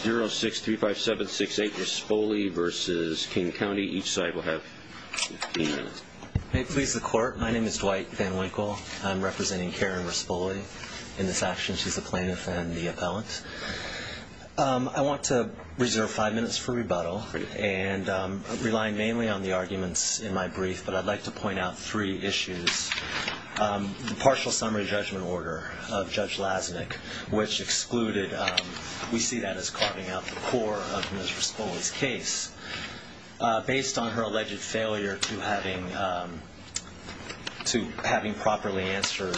0635768 Rispoli v. King County. Each side will have 15 minutes. May it please the Court, my name is Dwight Van Winkle. I'm representing Karen Rispoli. In this action, she's the plaintiff and the appellant. I want to reserve five minutes for rebuttal, relying mainly on the arguments in my brief, but I'd like to point out three issues. The partial summary judgment order of Judge Lasnik, which excluded, we see that as carving out the core of Ms. Rispoli's case, based on her alleged failure to having properly answered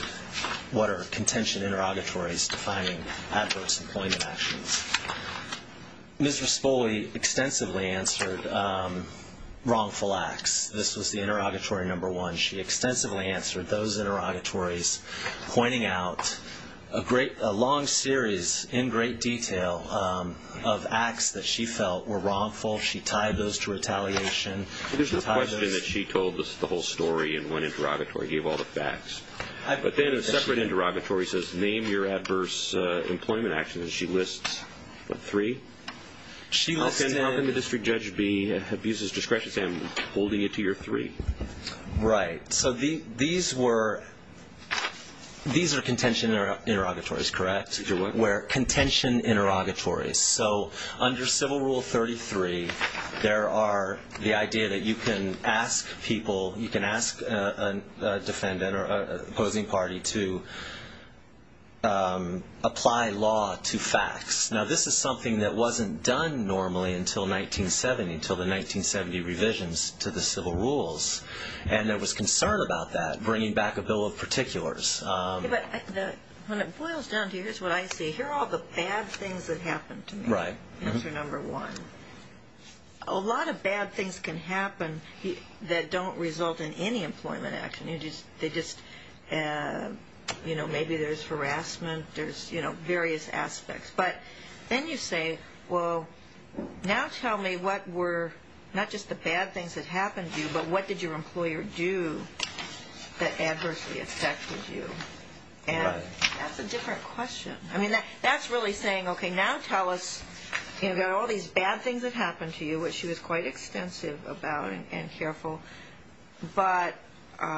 what are contention interrogatories defining adverse employment actions. Ms. Rispoli extensively answered wrongful acts. This was the interrogatory number one. She extensively answered those interrogatories, pointing out a long series in great detail of acts that she felt were wrongful. She tied those to retaliation. There's no question that she told us the whole story in one interrogatory, gave all the facts. But then in a separate interrogatory, it says, name your adverse employment actions, and she lists, what, three? How can the district judge abuse his discretion to say I'm holding it to your three? Right. So these were contention interrogatories, correct? These are what? Where contention interrogatories. So under Civil Rule 33, there are the idea that you can ask people, you can ask a defendant or opposing party to apply law to facts. Now, this is something that wasn't done normally until 1970, until the 1970 revisions to the Civil Rules, and there was concern about that, bringing back a bill of particulars. But when it boils down to, here's what I see, here are all the bad things that happened to me. Right. Answer number one. A lot of bad things can happen that don't result in any employment action. They just, you know, maybe there's harassment. There's, you know, various aspects. But then you say, well, now tell me what were not just the bad things that happened to you, but what did your employer do that adversely affected you? Right. And that's a different question. I mean, that's really saying, okay, now tell us, you've got all these bad things that happened to you, which she was quite extensive about and careful. But heading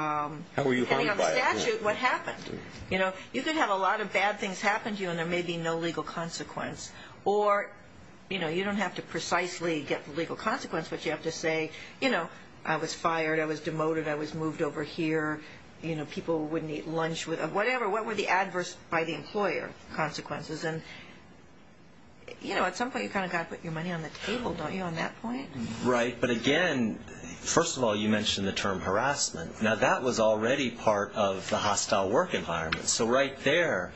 on statute, what happened? You know, you could have a lot of bad things happen to you, and there may be no legal consequence. Or, you know, you don't have to precisely get the legal consequence, but you have to say, you know, I was fired, I was demoted, I was moved over here, you know, people wouldn't eat lunch, whatever. What were the adverse, by the employer, consequences? And, you know, at some point you've kind of got to put your money on the table, don't you, on that point? Right. But, again, first of all, you mentioned the term harassment. Now, that was already part of the hostile work environment. So right there,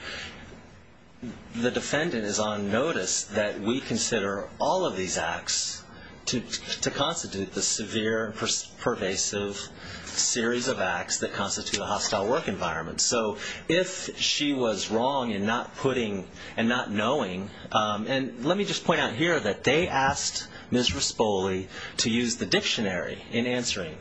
the defendant is on notice that we consider all of these acts to constitute the severe and pervasive series of acts that constitute a hostile work environment. So if she was wrong in not putting and not knowing, and let me just point out here that they asked Ms. Rispoli to use the dictionary in answering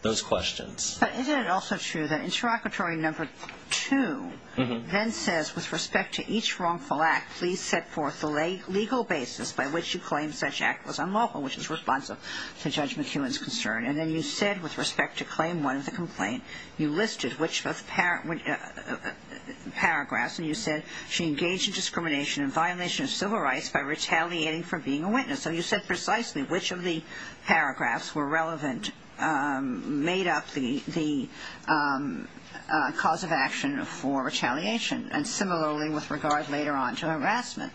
those questions. But isn't it also true that interrogatory number two then says, with respect to each wrongful act, please set forth the legal basis by which you claim such act was unlawful, which is responsive to Judge McKeown's concern. And then you said, with respect to claim one of the complaint, you listed which of the paragraphs, and you said, she engaged in discrimination and violation of civil rights by retaliating for being a witness. So you said precisely which of the paragraphs were relevant, made up the cause of action for retaliation, and similarly with regard later on to harassment.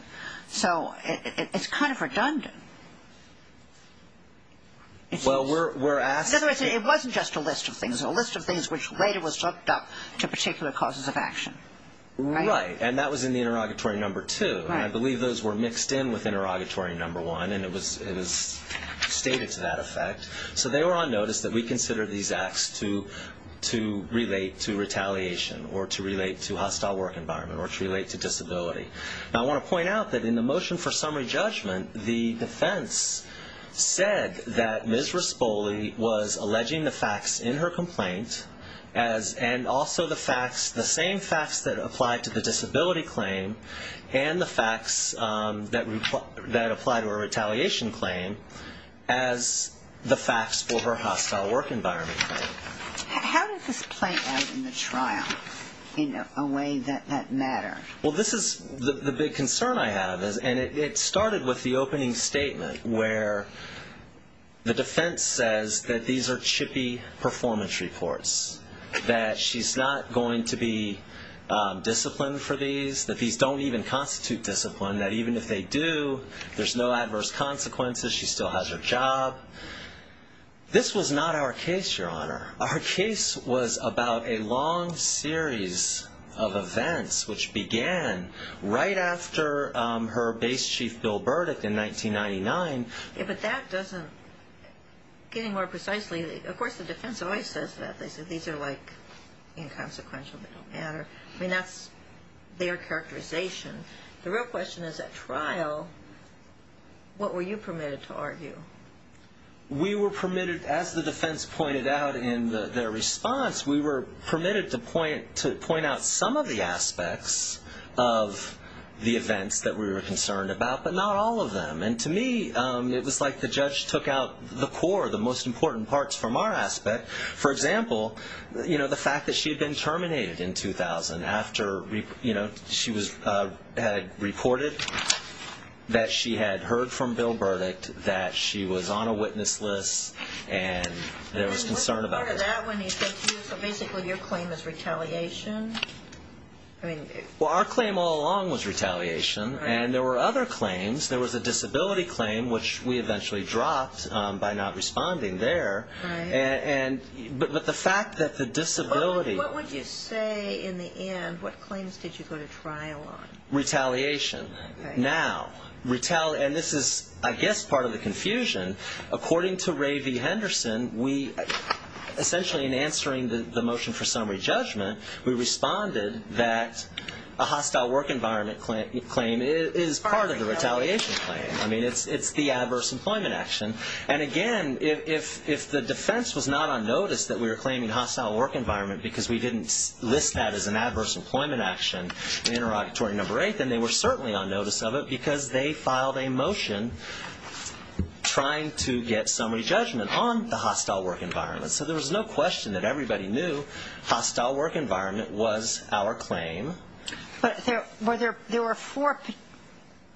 So it's kind of redundant. Well, we're asking. In other words, it wasn't just a list of things. It was a list of things which later was looked up to particular causes of action. Right. And that was in the interrogatory number two. I believe those were mixed in with interrogatory number one, and it was stated to that effect. So they were on notice that we considered these acts to relate to retaliation or to relate to hostile work environment or to relate to disability. Now I want to point out that in the motion for summary judgment, the defense said that Ms. Rispoli was alleging the facts in her complaint and also the same facts that apply to the disability claim and the facts that apply to her retaliation claim as the facts for her hostile work environment claim. How did this play out in the trial in a way that mattered? Well, this is the big concern I have, and it started with the opening statement where the defense says that these are chippy performance reports, that she's not going to be disciplined for these, that these don't even constitute discipline, that even if they do, there's no adverse consequences. She still has her job. This was not our case, Your Honor. Our case was about a long series of events, which began right after her base chief bill verdict in 1999. But that doesn't, getting more precisely, of course the defense always says that. They say these are like inconsequential, they don't matter. I mean, that's their characterization. The real question is, at trial, what were you permitted to argue? We were permitted, as the defense pointed out in their response, we were permitted to point out some of the aspects of the events that we were concerned about, but not all of them. And to me, it was like the judge took out the core, the most important parts from our aspect. For example, the fact that she had been terminated in 2000 after she had reported that she had heard from bill verdict, that she was on a witness list, and there was concern about her. What part of that when he said to you, so basically your claim is retaliation? Well, our claim all along was retaliation, and there were other claims. There was a disability claim, which we eventually dropped by not responding there. But the fact that the disability... What would you say in the end, what claims did you go to trial on? Retaliation. Now, and this is, I guess, part of the confusion. According to Ray V. Henderson, essentially in answering the motion for summary judgment, we responded that a hostile work environment claim is part of the retaliation claim. I mean, it's the adverse employment action. And again, if the defense was not on notice that we were claiming hostile work environment because we didn't list that as an adverse employment action in interrogatory number eight, then they were certainly on notice of it because they filed a motion trying to get summary judgment on the hostile work environment. So there was no question that everybody knew hostile work environment was our claim. But there were four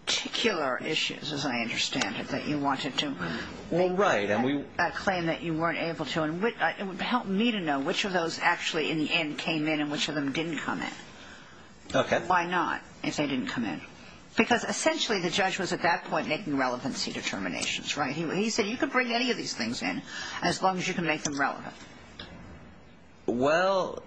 particular issues, as I understand it, that you wanted to... Well, right, and we... ...claim that you weren't able to. It would help me to know which of those actually in the end came in and which of them didn't come in. Okay. Why not, if they didn't come in? Because essentially the judge was at that point making relevancy determinations, right? He said you could bring any of these things in as long as you can make them relevant. Well,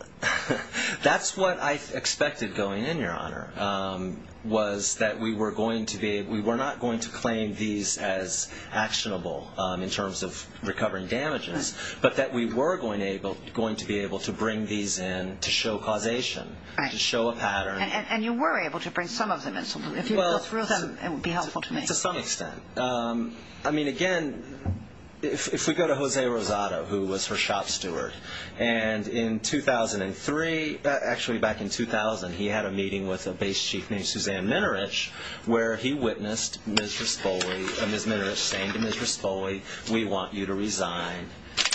that's what I expected going in, Your Honor, was that we were not going to claim these as actionable in terms of recovering damages, but that we were going to be able to bring these in to show causation, to show a pattern. And you were able to bring some of them in. If you go through them, it would be helpful to me. To some extent. I mean, again, if we go to Jose Rosado, who was her shop steward, and in 2003, actually back in 2000, he had a meeting with a base chief named Suzanne Minarich where he witnessed Ms. Minarich saying to Ms. Raspoli, we want you to resign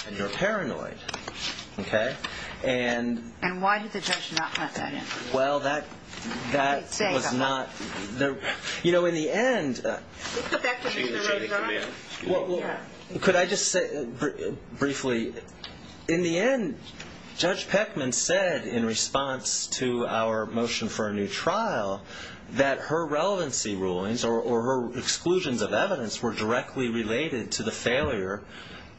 and you're paranoid. Okay? And why did the judge not let that in? Well, that was not... Could I just say briefly, in the end, Judge Peckman said in response to our motion for a new trial that her relevancy rulings or her exclusions of evidence were directly related to the failure,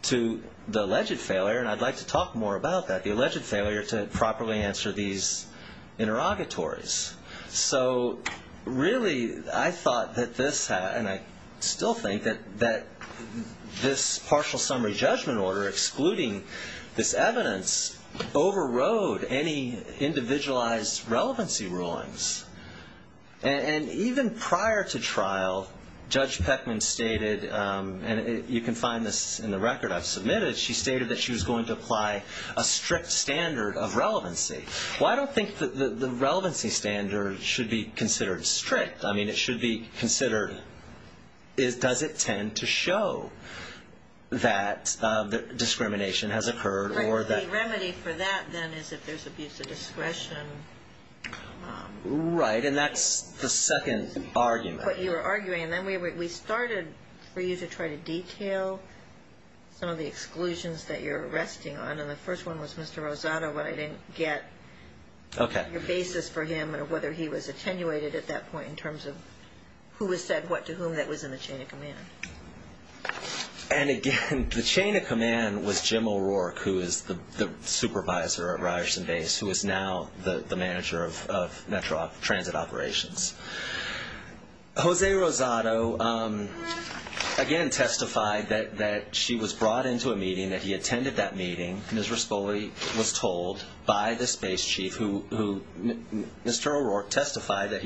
to the alleged failure, and I'd like to talk more about that, the alleged failure to properly answer these interrogatories. So really, I thought that this had, and I still think, that this partial summary judgment order excluding this evidence overrode any individualized relevancy rulings. And even prior to trial, Judge Peckman stated, and you can find this in the record I've submitted, she stated that she was going to apply a strict standard of relevancy. Well, I don't think the relevancy standard should be considered strict. I mean, it should be considered, does it tend to show that discrimination has occurred or that... The remedy for that, then, is if there's abuse of discretion. Right, and that's the second argument. But you were arguing, and then we started for you to try to detail some of the exclusions that you're arresting on, and the first one was Mr. Rosado, but I didn't get your basis for him and whether he was attenuated at that point in terms of who was said what to whom that was in the chain of command. And again, the chain of command was Jim O'Rourke, who is the supervisor at Ryerson Base, who is now the manager of Metro Transit Operations. Jose Rosado, again, testified that she was brought into a meeting, that he attended that meeting. Ms. Raspoli was told by the space chief, who Mr. O'Rourke testified that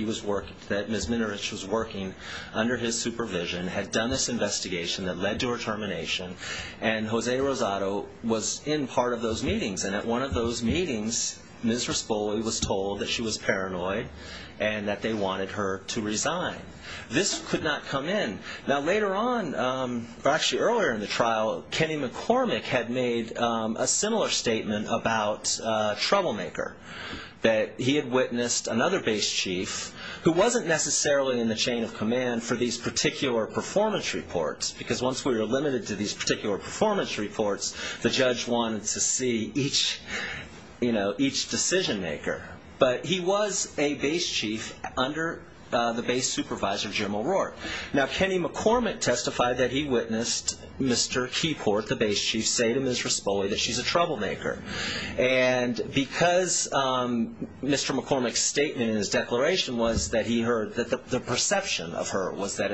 Ms. Minowich was working under his supervision, had done this investigation that led to her termination, and Jose Rosado was in part of those meetings. And at one of those meetings, Ms. Raspoli was told that she was paranoid and that they wanted her to resign. This could not come in. Now, later on, or actually earlier in the trial, Kenny McCormick had made a similar statement about Troublemaker, that he had witnessed another base chief, who wasn't necessarily in the chain of command for these particular performance reports, because once we were limited to these particular performance reports, the judge wanted to see each decision maker. But he was a base chief under the base supervisor, Jim O'Rourke. Now, Kenny McCormick testified that he witnessed Mr. Keyport, the base chief, say to Ms. Raspoli that she's a troublemaker. And because Mr. McCormick's statement in his declaration was that he heard that the perception of her was that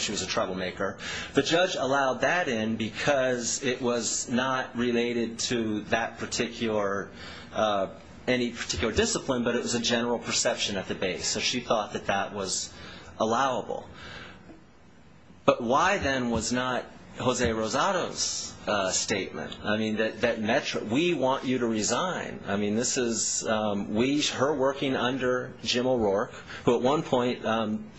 she was a troublemaker, the judge allowed that in because it was not related to that particular discipline, but it was a general perception at the base. So she thought that that was allowable. But why, then, was not Jose Rosado's statement? I mean, that we want you to resign. I mean, this is her working under Jim O'Rourke, who at one point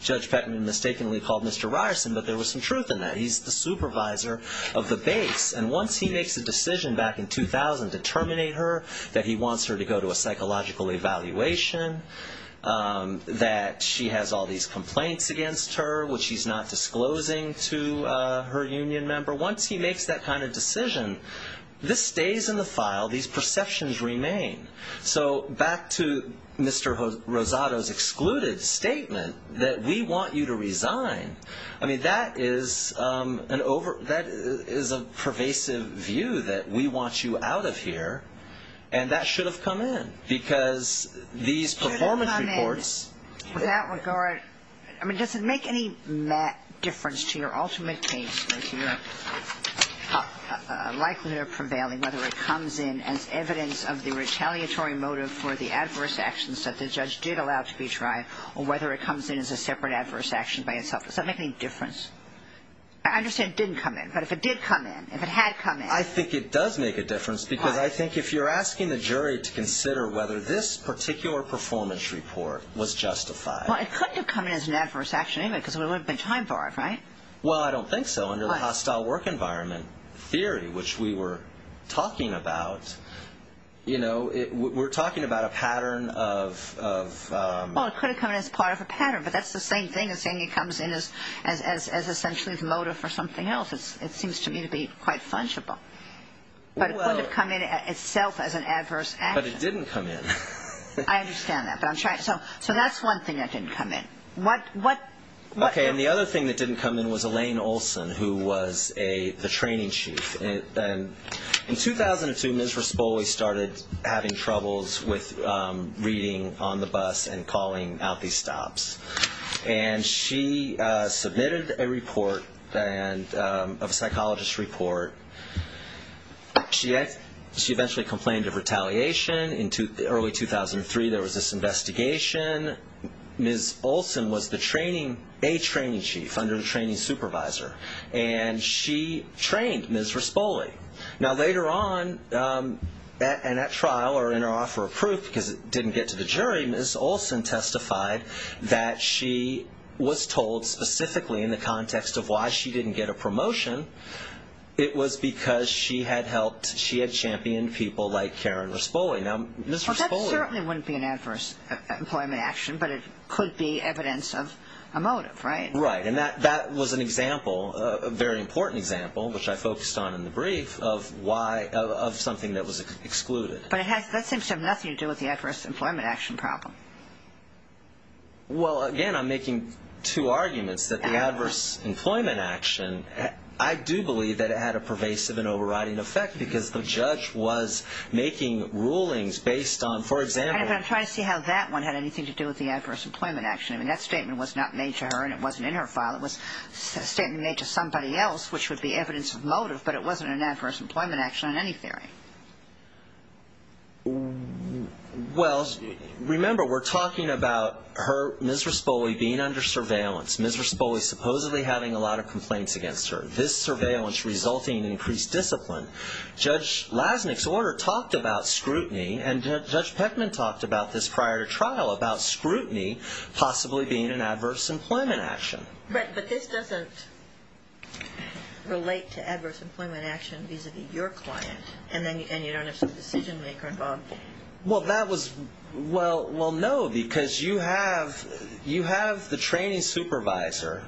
Judge Beckman mistakenly called Mr. Ryerson, but there was some truth in that. He's the supervisor of the base. And once he makes a decision back in 2000 to terminate her, that he wants her to go to a psychological evaluation, that she has all these complaints against her, which he's not disclosing to her union member, once he makes that kind of decision, this stays in the file. These perceptions remain. So back to Mr. Rosado's excluded statement that we want you to resign, I mean, that is a pervasive view that we want you out of here, and that should have come in because these performance reports. Should have come in. With that regard, I mean, does it make any difference to your ultimate case likelihood of prevailing, whether it comes in as evidence of the retaliatory motive for the adverse actions that the judge did allow to be tried, or whether it comes in as a separate adverse action by itself? Does that make any difference? I understand it didn't come in, but if it did come in, if it had come in. I think it does make a difference. Why? Because I think if you're asking the jury to consider whether this particular performance report was justified. Well, it couldn't have come in as an adverse action anyway because there wouldn't have been time for it, right? Well, I don't think so under the hostile work environment theory, which we were talking about. You know, we're talking about a pattern of... Well, it could have come in as part of a pattern, but that's the same thing as saying it comes in as essentially the motive for something else. It seems to me to be quite fungible. But it could have come in itself as an adverse action. But it didn't come in. I understand that, but I'm trying. So that's one thing that didn't come in. Okay, and the other thing that didn't come in was Elaine Olson, who was the training chief. In 2002, Ms. Respoli started having troubles with reading on the bus and calling out these stops. And she submitted a report, a psychologist report. She eventually complained of retaliation. In early 2003, there was this investigation. Ms. Olson was a training chief under the training supervisor, and she trained Ms. Respoli. Now, later on, and at trial or in her offer of proof because it didn't get to the jury, Ms. Olson testified that she was told specifically, in the context of why she didn't get a promotion, it was because she had championed people like Karen Respoli. Now, Ms. Respoli. Well, that certainly wouldn't be an adverse employment action, but it could be evidence of a motive, right? Right, and that was an example, a very important example, which I focused on in the brief, of something that was excluded. But that seems to have nothing to do with the adverse employment action problem. Well, again, I'm making two arguments that the adverse employment action, I do believe that it had a pervasive and overriding effect because the judge was making rulings based on, for example. I'm trying to see how that one had anything to do with the adverse employment action. I mean, that statement was not made to her, and it wasn't in her file. It was a statement made to somebody else, which would be evidence of motive, but it wasn't an adverse employment action in any theory. Well, remember, we're talking about Ms. Respoli being under surveillance. Ms. Respoli supposedly having a lot of complaints against her. This surveillance resulting in increased discipline. Judge Lasnik's order talked about scrutiny, and Judge Peckman talked about this prior to trial, about scrutiny possibly being an adverse employment action. But this doesn't relate to adverse employment action vis-a-vis your client, and you don't have some decision maker involved. Well, no, because you have the training supervisor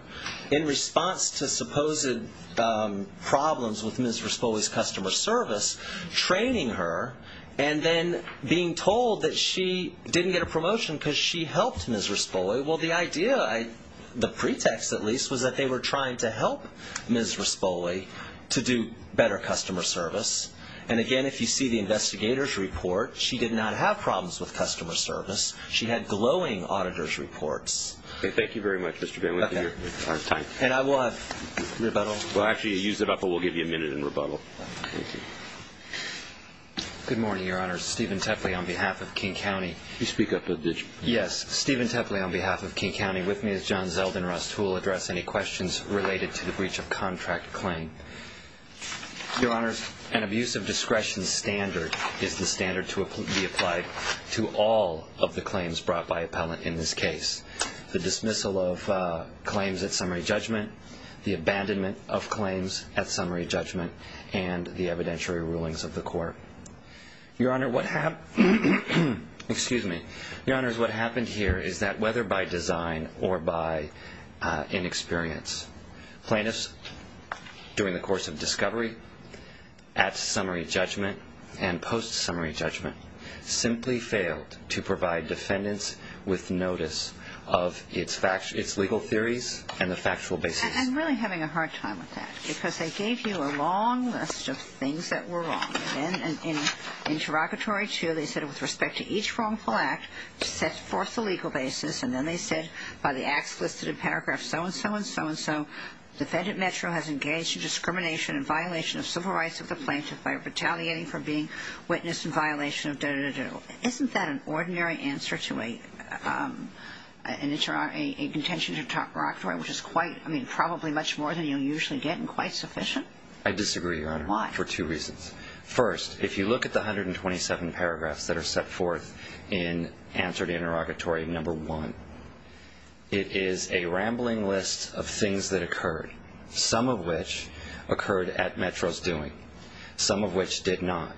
in response to supposed problems with Ms. Respoli's customer service training her, and then being told that she didn't get a promotion because she helped Ms. Respoli. Well, the idea, the pretext at least, was that they were trying to help Ms. Respoli to do better customer service. And again, if you see the investigator's report, she did not have problems with customer service. She had glowing auditor's reports. Thank you very much, Mr. Benwick, for your time. And I will have rebuttal. Well, actually, you used it up, but we'll give you a minute in rebuttal. Thank you. Good morning, Your Honor. Steven Tepley on behalf of King County. You speak up a bit. Yes. Steven Tepley on behalf of King County. With me is John Zeldin-Rust, who will address any questions related to the breach of contract claim. Your Honor, an abuse of discretion standard is the standard to be applied to all of the claims brought by appellant in this case. The dismissal of claims at summary judgment, the abandonment of claims at summary judgment, and the evidentiary rulings of the court. Your Honor, what happened here is that whether by design or by inexperience, plaintiffs during the course of discovery at summary judgment and post-summary judgment simply failed to provide defendants with notice of its legal theories and the factual basis. I'm really having a hard time with that because they gave you a long list of things that were wrong. In interrogatory two, they said, with respect to each wrongful act, set forth the legal basis, and then they said by the acts listed in paragraph so-and-so and so-and-so, defendant Metro has engaged in discrimination and violation of civil rights of the plaintiff by retaliating for being witnessed in violation of da-da-da-do. Isn't that an ordinary answer to a contention in interrogatory, which is quite, I mean, probably much more than you usually get and quite sufficient? I disagree, Your Honor. Why? For two reasons. First, if you look at the 127 paragraphs that are set forth in answer to interrogatory number one, it is a rambling list of things that occurred, some of which occurred at Metro's doing, some of which did not.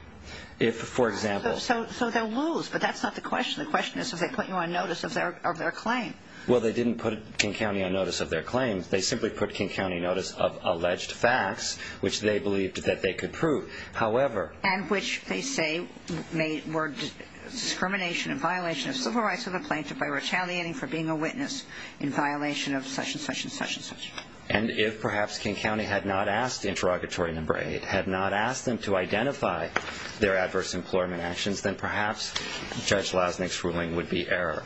If, for example... So they're rules, but that's not the question. The question is if they put you on notice of their claim. Well, they didn't put King County on notice of their claim. They simply put King County on notice of alleged facts, which they believed that they could prove. However... And which they say were discrimination and violation of civil rights of the plaintiff by retaliating for being a witness in violation of such-and-such and such-and-such. And if perhaps King County had not asked interrogatory number eight, had not asked them to identify their adverse employment actions, then perhaps Judge Lasnik's ruling would be error.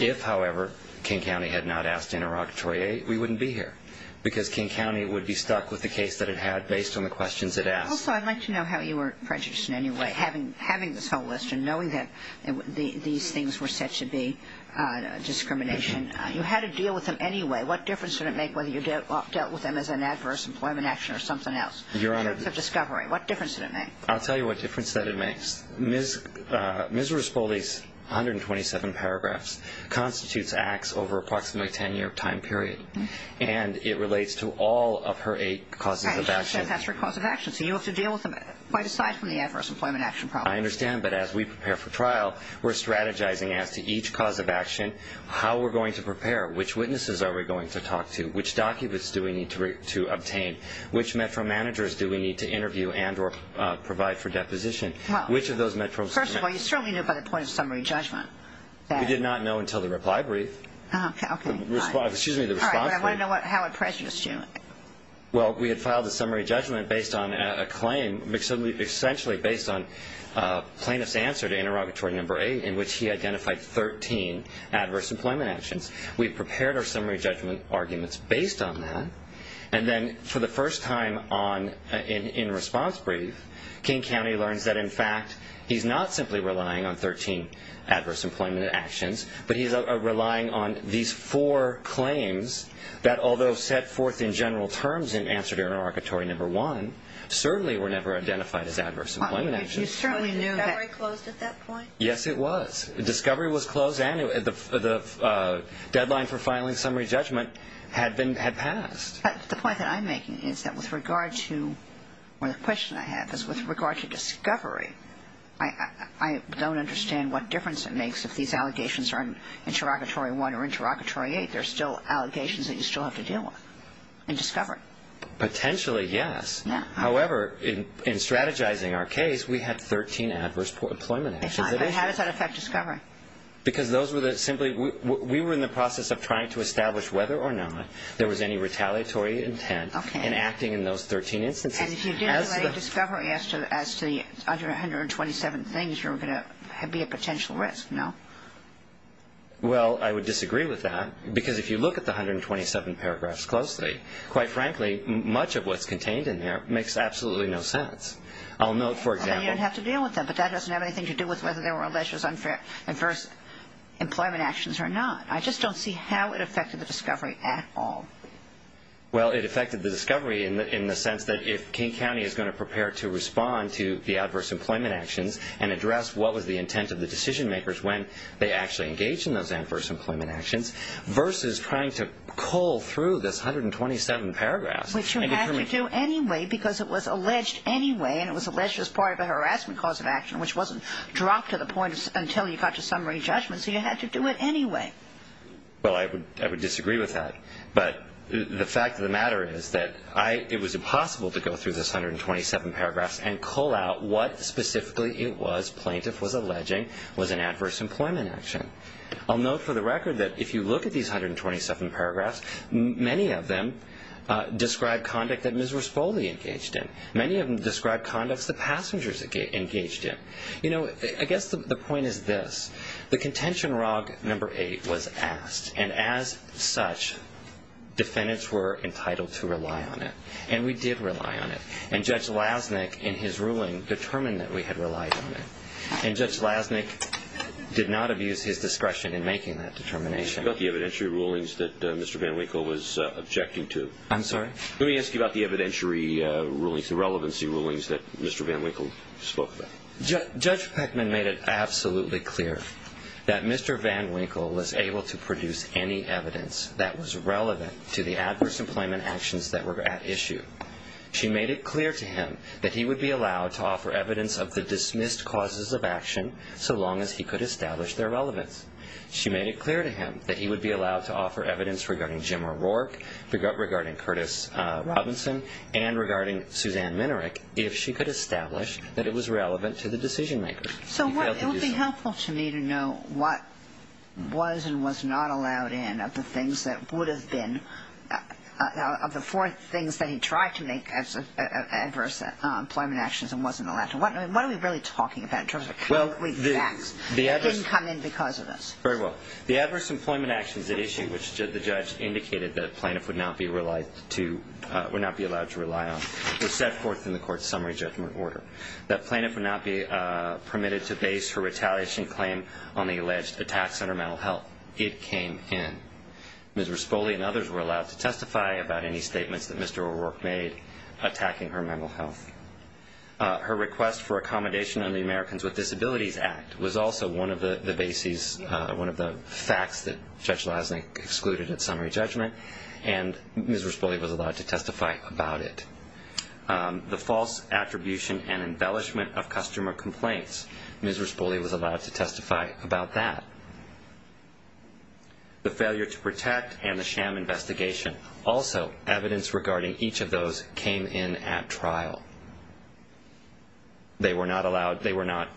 If, however, King County had not asked interrogatory eight, we wouldn't be here, because King County would be stuck with the case that it had based on the questions it asked. Also, I'd like to know how you were prejudiced in any way, having this whole list and knowing that these things were said to be discrimination. You had to deal with them anyway. What difference did it make whether you dealt with them as an adverse employment action or something else, in terms of discovery? What difference did it make? I'll tell you what difference that it makes. Ms. Rispoli's 127 paragraphs constitutes acts over approximately a 10-year time period, and it relates to all of her eight causes of action. And she said that's her cause of action, so you have to deal with them quite aside from the adverse employment action problem. I understand, but as we prepare for trial, we're strategizing as to each cause of action, how we're going to prepare, which witnesses are we going to talk to, which documents do we need to obtain, which metro managers do we need to interview and or provide for deposition, which of those metros... First of all, you certainly knew by the point of summary judgment that... We did not know until the reply brief. Okay, okay. Excuse me, the response brief. All right, but I want to know how it prejudiced you. Well, we had filed a summary judgment based on a claim, essentially based on plaintiff's answer to interrogatory number eight, in which he identified 13 adverse employment actions. We prepared our summary judgment arguments based on that, and then for the first time in response brief, King County learns that, in fact, he's not simply relying on 13 adverse employment actions, but he's relying on these four claims that, although set forth in general terms in answer to interrogatory number one, certainly were never identified as adverse employment actions. But you certainly knew that... Was Discovery closed at that point? Yes, it was. Discovery was closed, and the deadline for filing summary judgment had passed. The point that I'm making is that with regard to... The question I have is with regard to Discovery, I don't understand what difference it makes if these allegations are in interrogatory one or interrogatory eight. There are still allegations that you still have to deal with in Discovery. Potentially, yes. However, in strategizing our case, we had 13 adverse employment actions. How does that affect Discovery? Because those were simply... We were in the process of trying to establish whether or not there was any retaliatory intent in acting in those 13 instances. And if you didn't relate Discovery as to the 127 things, you're going to be at potential risk, no? Well, I would disagree with that, because if you look at the 127 paragraphs closely, quite frankly, much of what's contained in there makes absolutely no sense. I'll note, for example... So you don't have to deal with them, but that doesn't have anything to do with whether there were allegations of adverse employment actions or not. I just don't see how it affected the Discovery at all. Well, it affected the Discovery in the sense that if King County is going to prepare to respond to the adverse employment actions and address what was the intent of the decision makers when they actually engaged in those adverse employment actions versus trying to cull through this 127 paragraphs... Which you had to do anyway, because it was alleged anyway, and it was alleged as part of a harassment cause of action, which wasn't dropped to the point until you got to summary judgment, so you had to do it anyway. Well, I would disagree with that. But the fact of the matter is that it was impossible to go through this 127 paragraphs and cull out what specifically it was plaintiff was alleging was an adverse employment action. I'll note for the record that if you look at these 127 paragraphs, many of them describe conduct that Ms. Raspoli engaged in. Many of them describe conducts that passengers engaged in. You know, I guess the point is this. The contention rogue number 8 was asked, and as such, defendants were entitled to rely on it. And we did rely on it. And Judge Lasnik, in his ruling, determined that we had relied on it. And Judge Lasnik did not abuse his discretion in making that determination. What about the evidentiary rulings that Mr. Van Winkle was objecting to? I'm sorry? Let me ask you about the evidentiary rulings, the relevancy rulings, that Mr. Van Winkle spoke about. Judge Peckman made it absolutely clear that Mr. Van Winkle was able to produce any evidence that was relevant to the adverse employment actions that were at issue. She made it clear to him that he would be allowed to offer evidence of the dismissed causes of action so long as he could establish their relevance. She made it clear to him that he would be allowed to offer evidence regarding Jim O'Rourke, regarding Curtis Robinson, and regarding Suzanne Minarek if she could establish that it was relevant to the decision-makers. So it would be helpful to me to know what was and was not allowed in of the things that would have been, of the four things that he tried to make as adverse employment actions and wasn't allowed to. What are we really talking about in terms of how weak the facts didn't come in because of this? Very well. The adverse employment actions at issue, which the judge indicated the plaintiff would not be allowed to rely on, were set forth in the court's summary judgment order. The plaintiff would not be permitted to base her retaliation claim on the alleged attacks on her mental health. It came in. Ms. Raspoli and others were allowed to testify about any statements that Mr. O'Rourke made attacking her mental health. Her request for accommodation under the Americans with Disabilities Act was also one of the bases, one of the facts that Judge Lasnik excluded at summary judgment, and Ms. Raspoli was allowed to testify about it. The false attribution and embellishment of customer complaints, Ms. Raspoli was allowed to testify about that. The failure to protect and the sham investigation, also evidence regarding each of those came in at trial. They were not allowed, they were not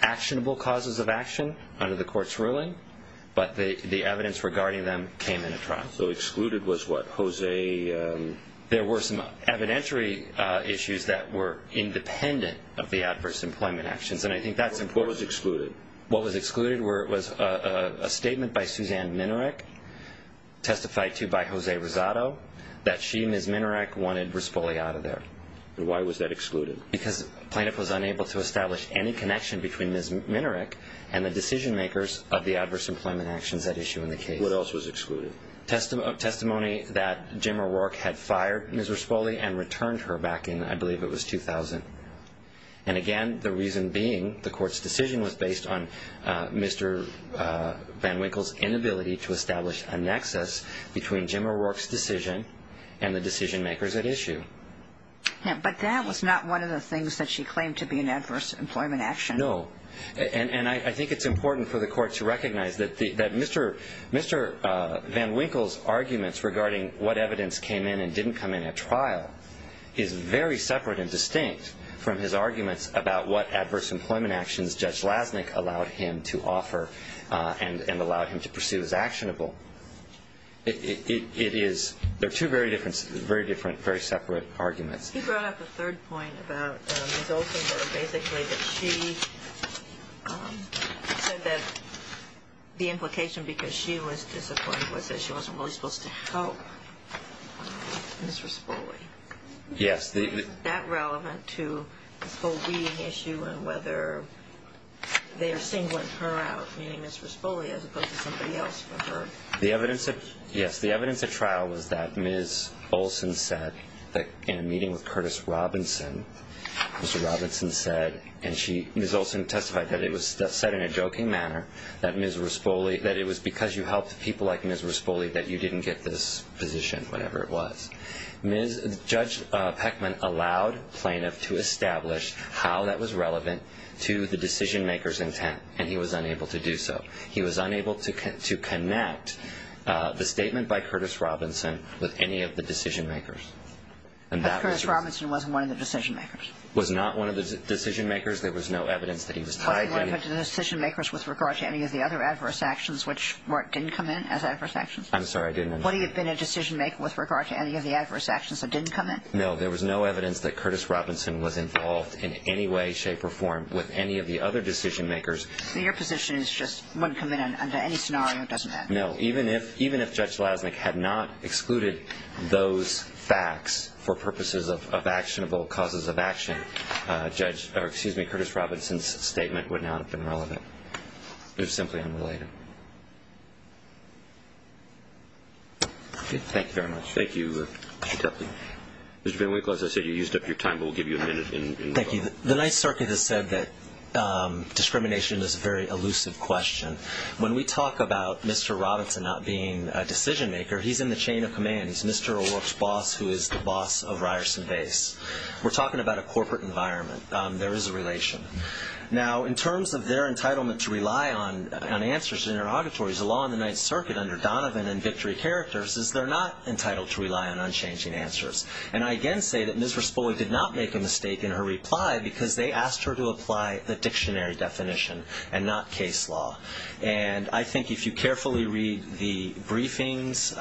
actionable causes of action under the court's ruling, but the evidence regarding them came in at trial. So excluded was what, Jose? There were some evidentiary issues that were independent of the adverse employment actions, and I think that's important. What was excluded? What was excluded was a statement by Suzanne Minarek, testified to by Jose Rosado, that she, Ms. Minarek, wanted Raspoli out of there. And why was that excluded? Because the plaintiff was unable to establish any connection between Ms. Minarek and the decision makers of the adverse employment actions at issue in the case. What else was excluded? The testimony that Jim O'Rourke had fired Ms. Raspoli and returned her back in, I believe it was 2000. And again, the reason being, the court's decision was based on Mr. Van Winkle's inability to establish a nexus between Jim O'Rourke's decision and the decision makers at issue. But that was not one of the things that she claimed to be an adverse employment action. No. And I think it's important for the court to recognize that Mr. Van Winkle's arguments regarding what evidence came in and didn't come in at trial is very separate and distinct from his arguments about what adverse employment actions Judge Lasnik allowed him to offer and allowed him to pursue as actionable. It is, they're two very different, very separate arguments. He brought up a third point about Ms. Olsen, basically that she said that the implication because she was disappointed was that she wasn't really supposed to help Ms. Raspoli. Yes. Is that relevant to this whole weeding issue and whether they are singling her out, meaning Ms. Raspoli, as opposed to somebody else for her? Yes. The evidence at trial was that Ms. Olsen said that in a meeting with Curtis Robinson, Mr. Robinson said, and Ms. Olsen testified that it was said in a joking manner that it was because you helped people like Ms. Raspoli that you didn't get this position, whatever it was. Judge Peckman allowed plaintiff to establish how that was relevant to the decision maker's intent, and he was unable to do so. He was unable to connect the statement by Curtis Robinson with any of the decision makers. But Curtis Robinson wasn't one of the decision makers. Was not one of the decision makers. There was no evidence that he was tied in. Wasn't one of the decision makers with regard to any of the other adverse actions which didn't come in as adverse actions? I'm sorry, I didn't understand. Would he have been a decision maker with regard to any of the adverse actions that didn't come in? No. There was no evidence that Curtis Robinson was involved in any way, shape, or form with any of the other decision makers. So your position is just wouldn't come in under any scenario. It doesn't matter. No. Even if Judge Lasnik had not excluded those facts for purposes of actionable causes of action, Curtis Robinson's statement would not have been relevant. It was simply unrelated. Thank you very much. Thank you. Mr. VanWinkle, as I said, you used up your time, but we'll give you a minute. Thank you. The Ninth Circuit has said that discrimination is a very elusive question. When we talk about Mr. Robinson not being a decision maker, he's in the chain of command. He's Mr. O'Rourke's boss, who is the boss of Ryerson Base. We're talking about a corporate environment. There is a relation. Now, in terms of their entitlement to rely on answers in interrogatories, the law in the Ninth Circuit, under Donovan and Victory Characters, is they're not entitled to rely on unchanging answers. And I again say that Ms. Raspoi did not make a mistake in her reply because they asked her to apply the dictionary definition and not case law. And I think if you carefully read the briefings,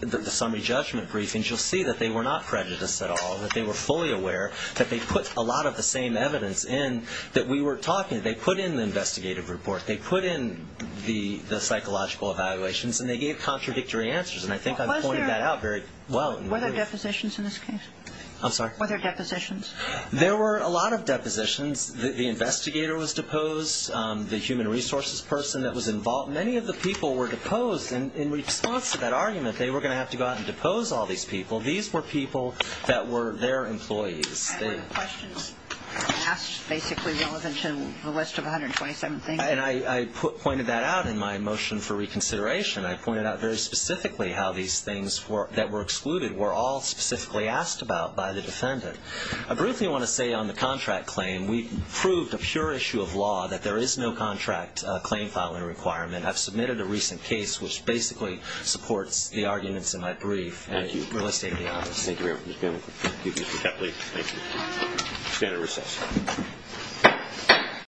the summary judgment briefings, you'll see that they were not prejudiced at all, that they were fully aware that they put a lot of the same evidence in that we were talking. They put in the investigative report. They put in the psychological evaluations, and they gave contradictory answers. And I think I've pointed that out very well. Were there depositions in this case? I'm sorry? Were there depositions? There were a lot of depositions. The investigator was deposed. The human resources person that was involved. Many of the people were deposed. And in response to that argument, they were going to have to go out and depose all these people. These were people that were their employees. And were the questions asked basically relevant to the rest of 127 things? And I pointed that out in my motion for reconsideration. I pointed out very specifically how these things that were excluded were all specifically asked about by the defendant. I briefly want to say on the contract claim, we proved a pure issue of law that there is no contract claim filing requirement. I've submitted a recent case, which basically supports the arguments in my brief at real estate in the office. Thank you very much. Thank you, Mr. Kepley. Thank you. We're going to recess.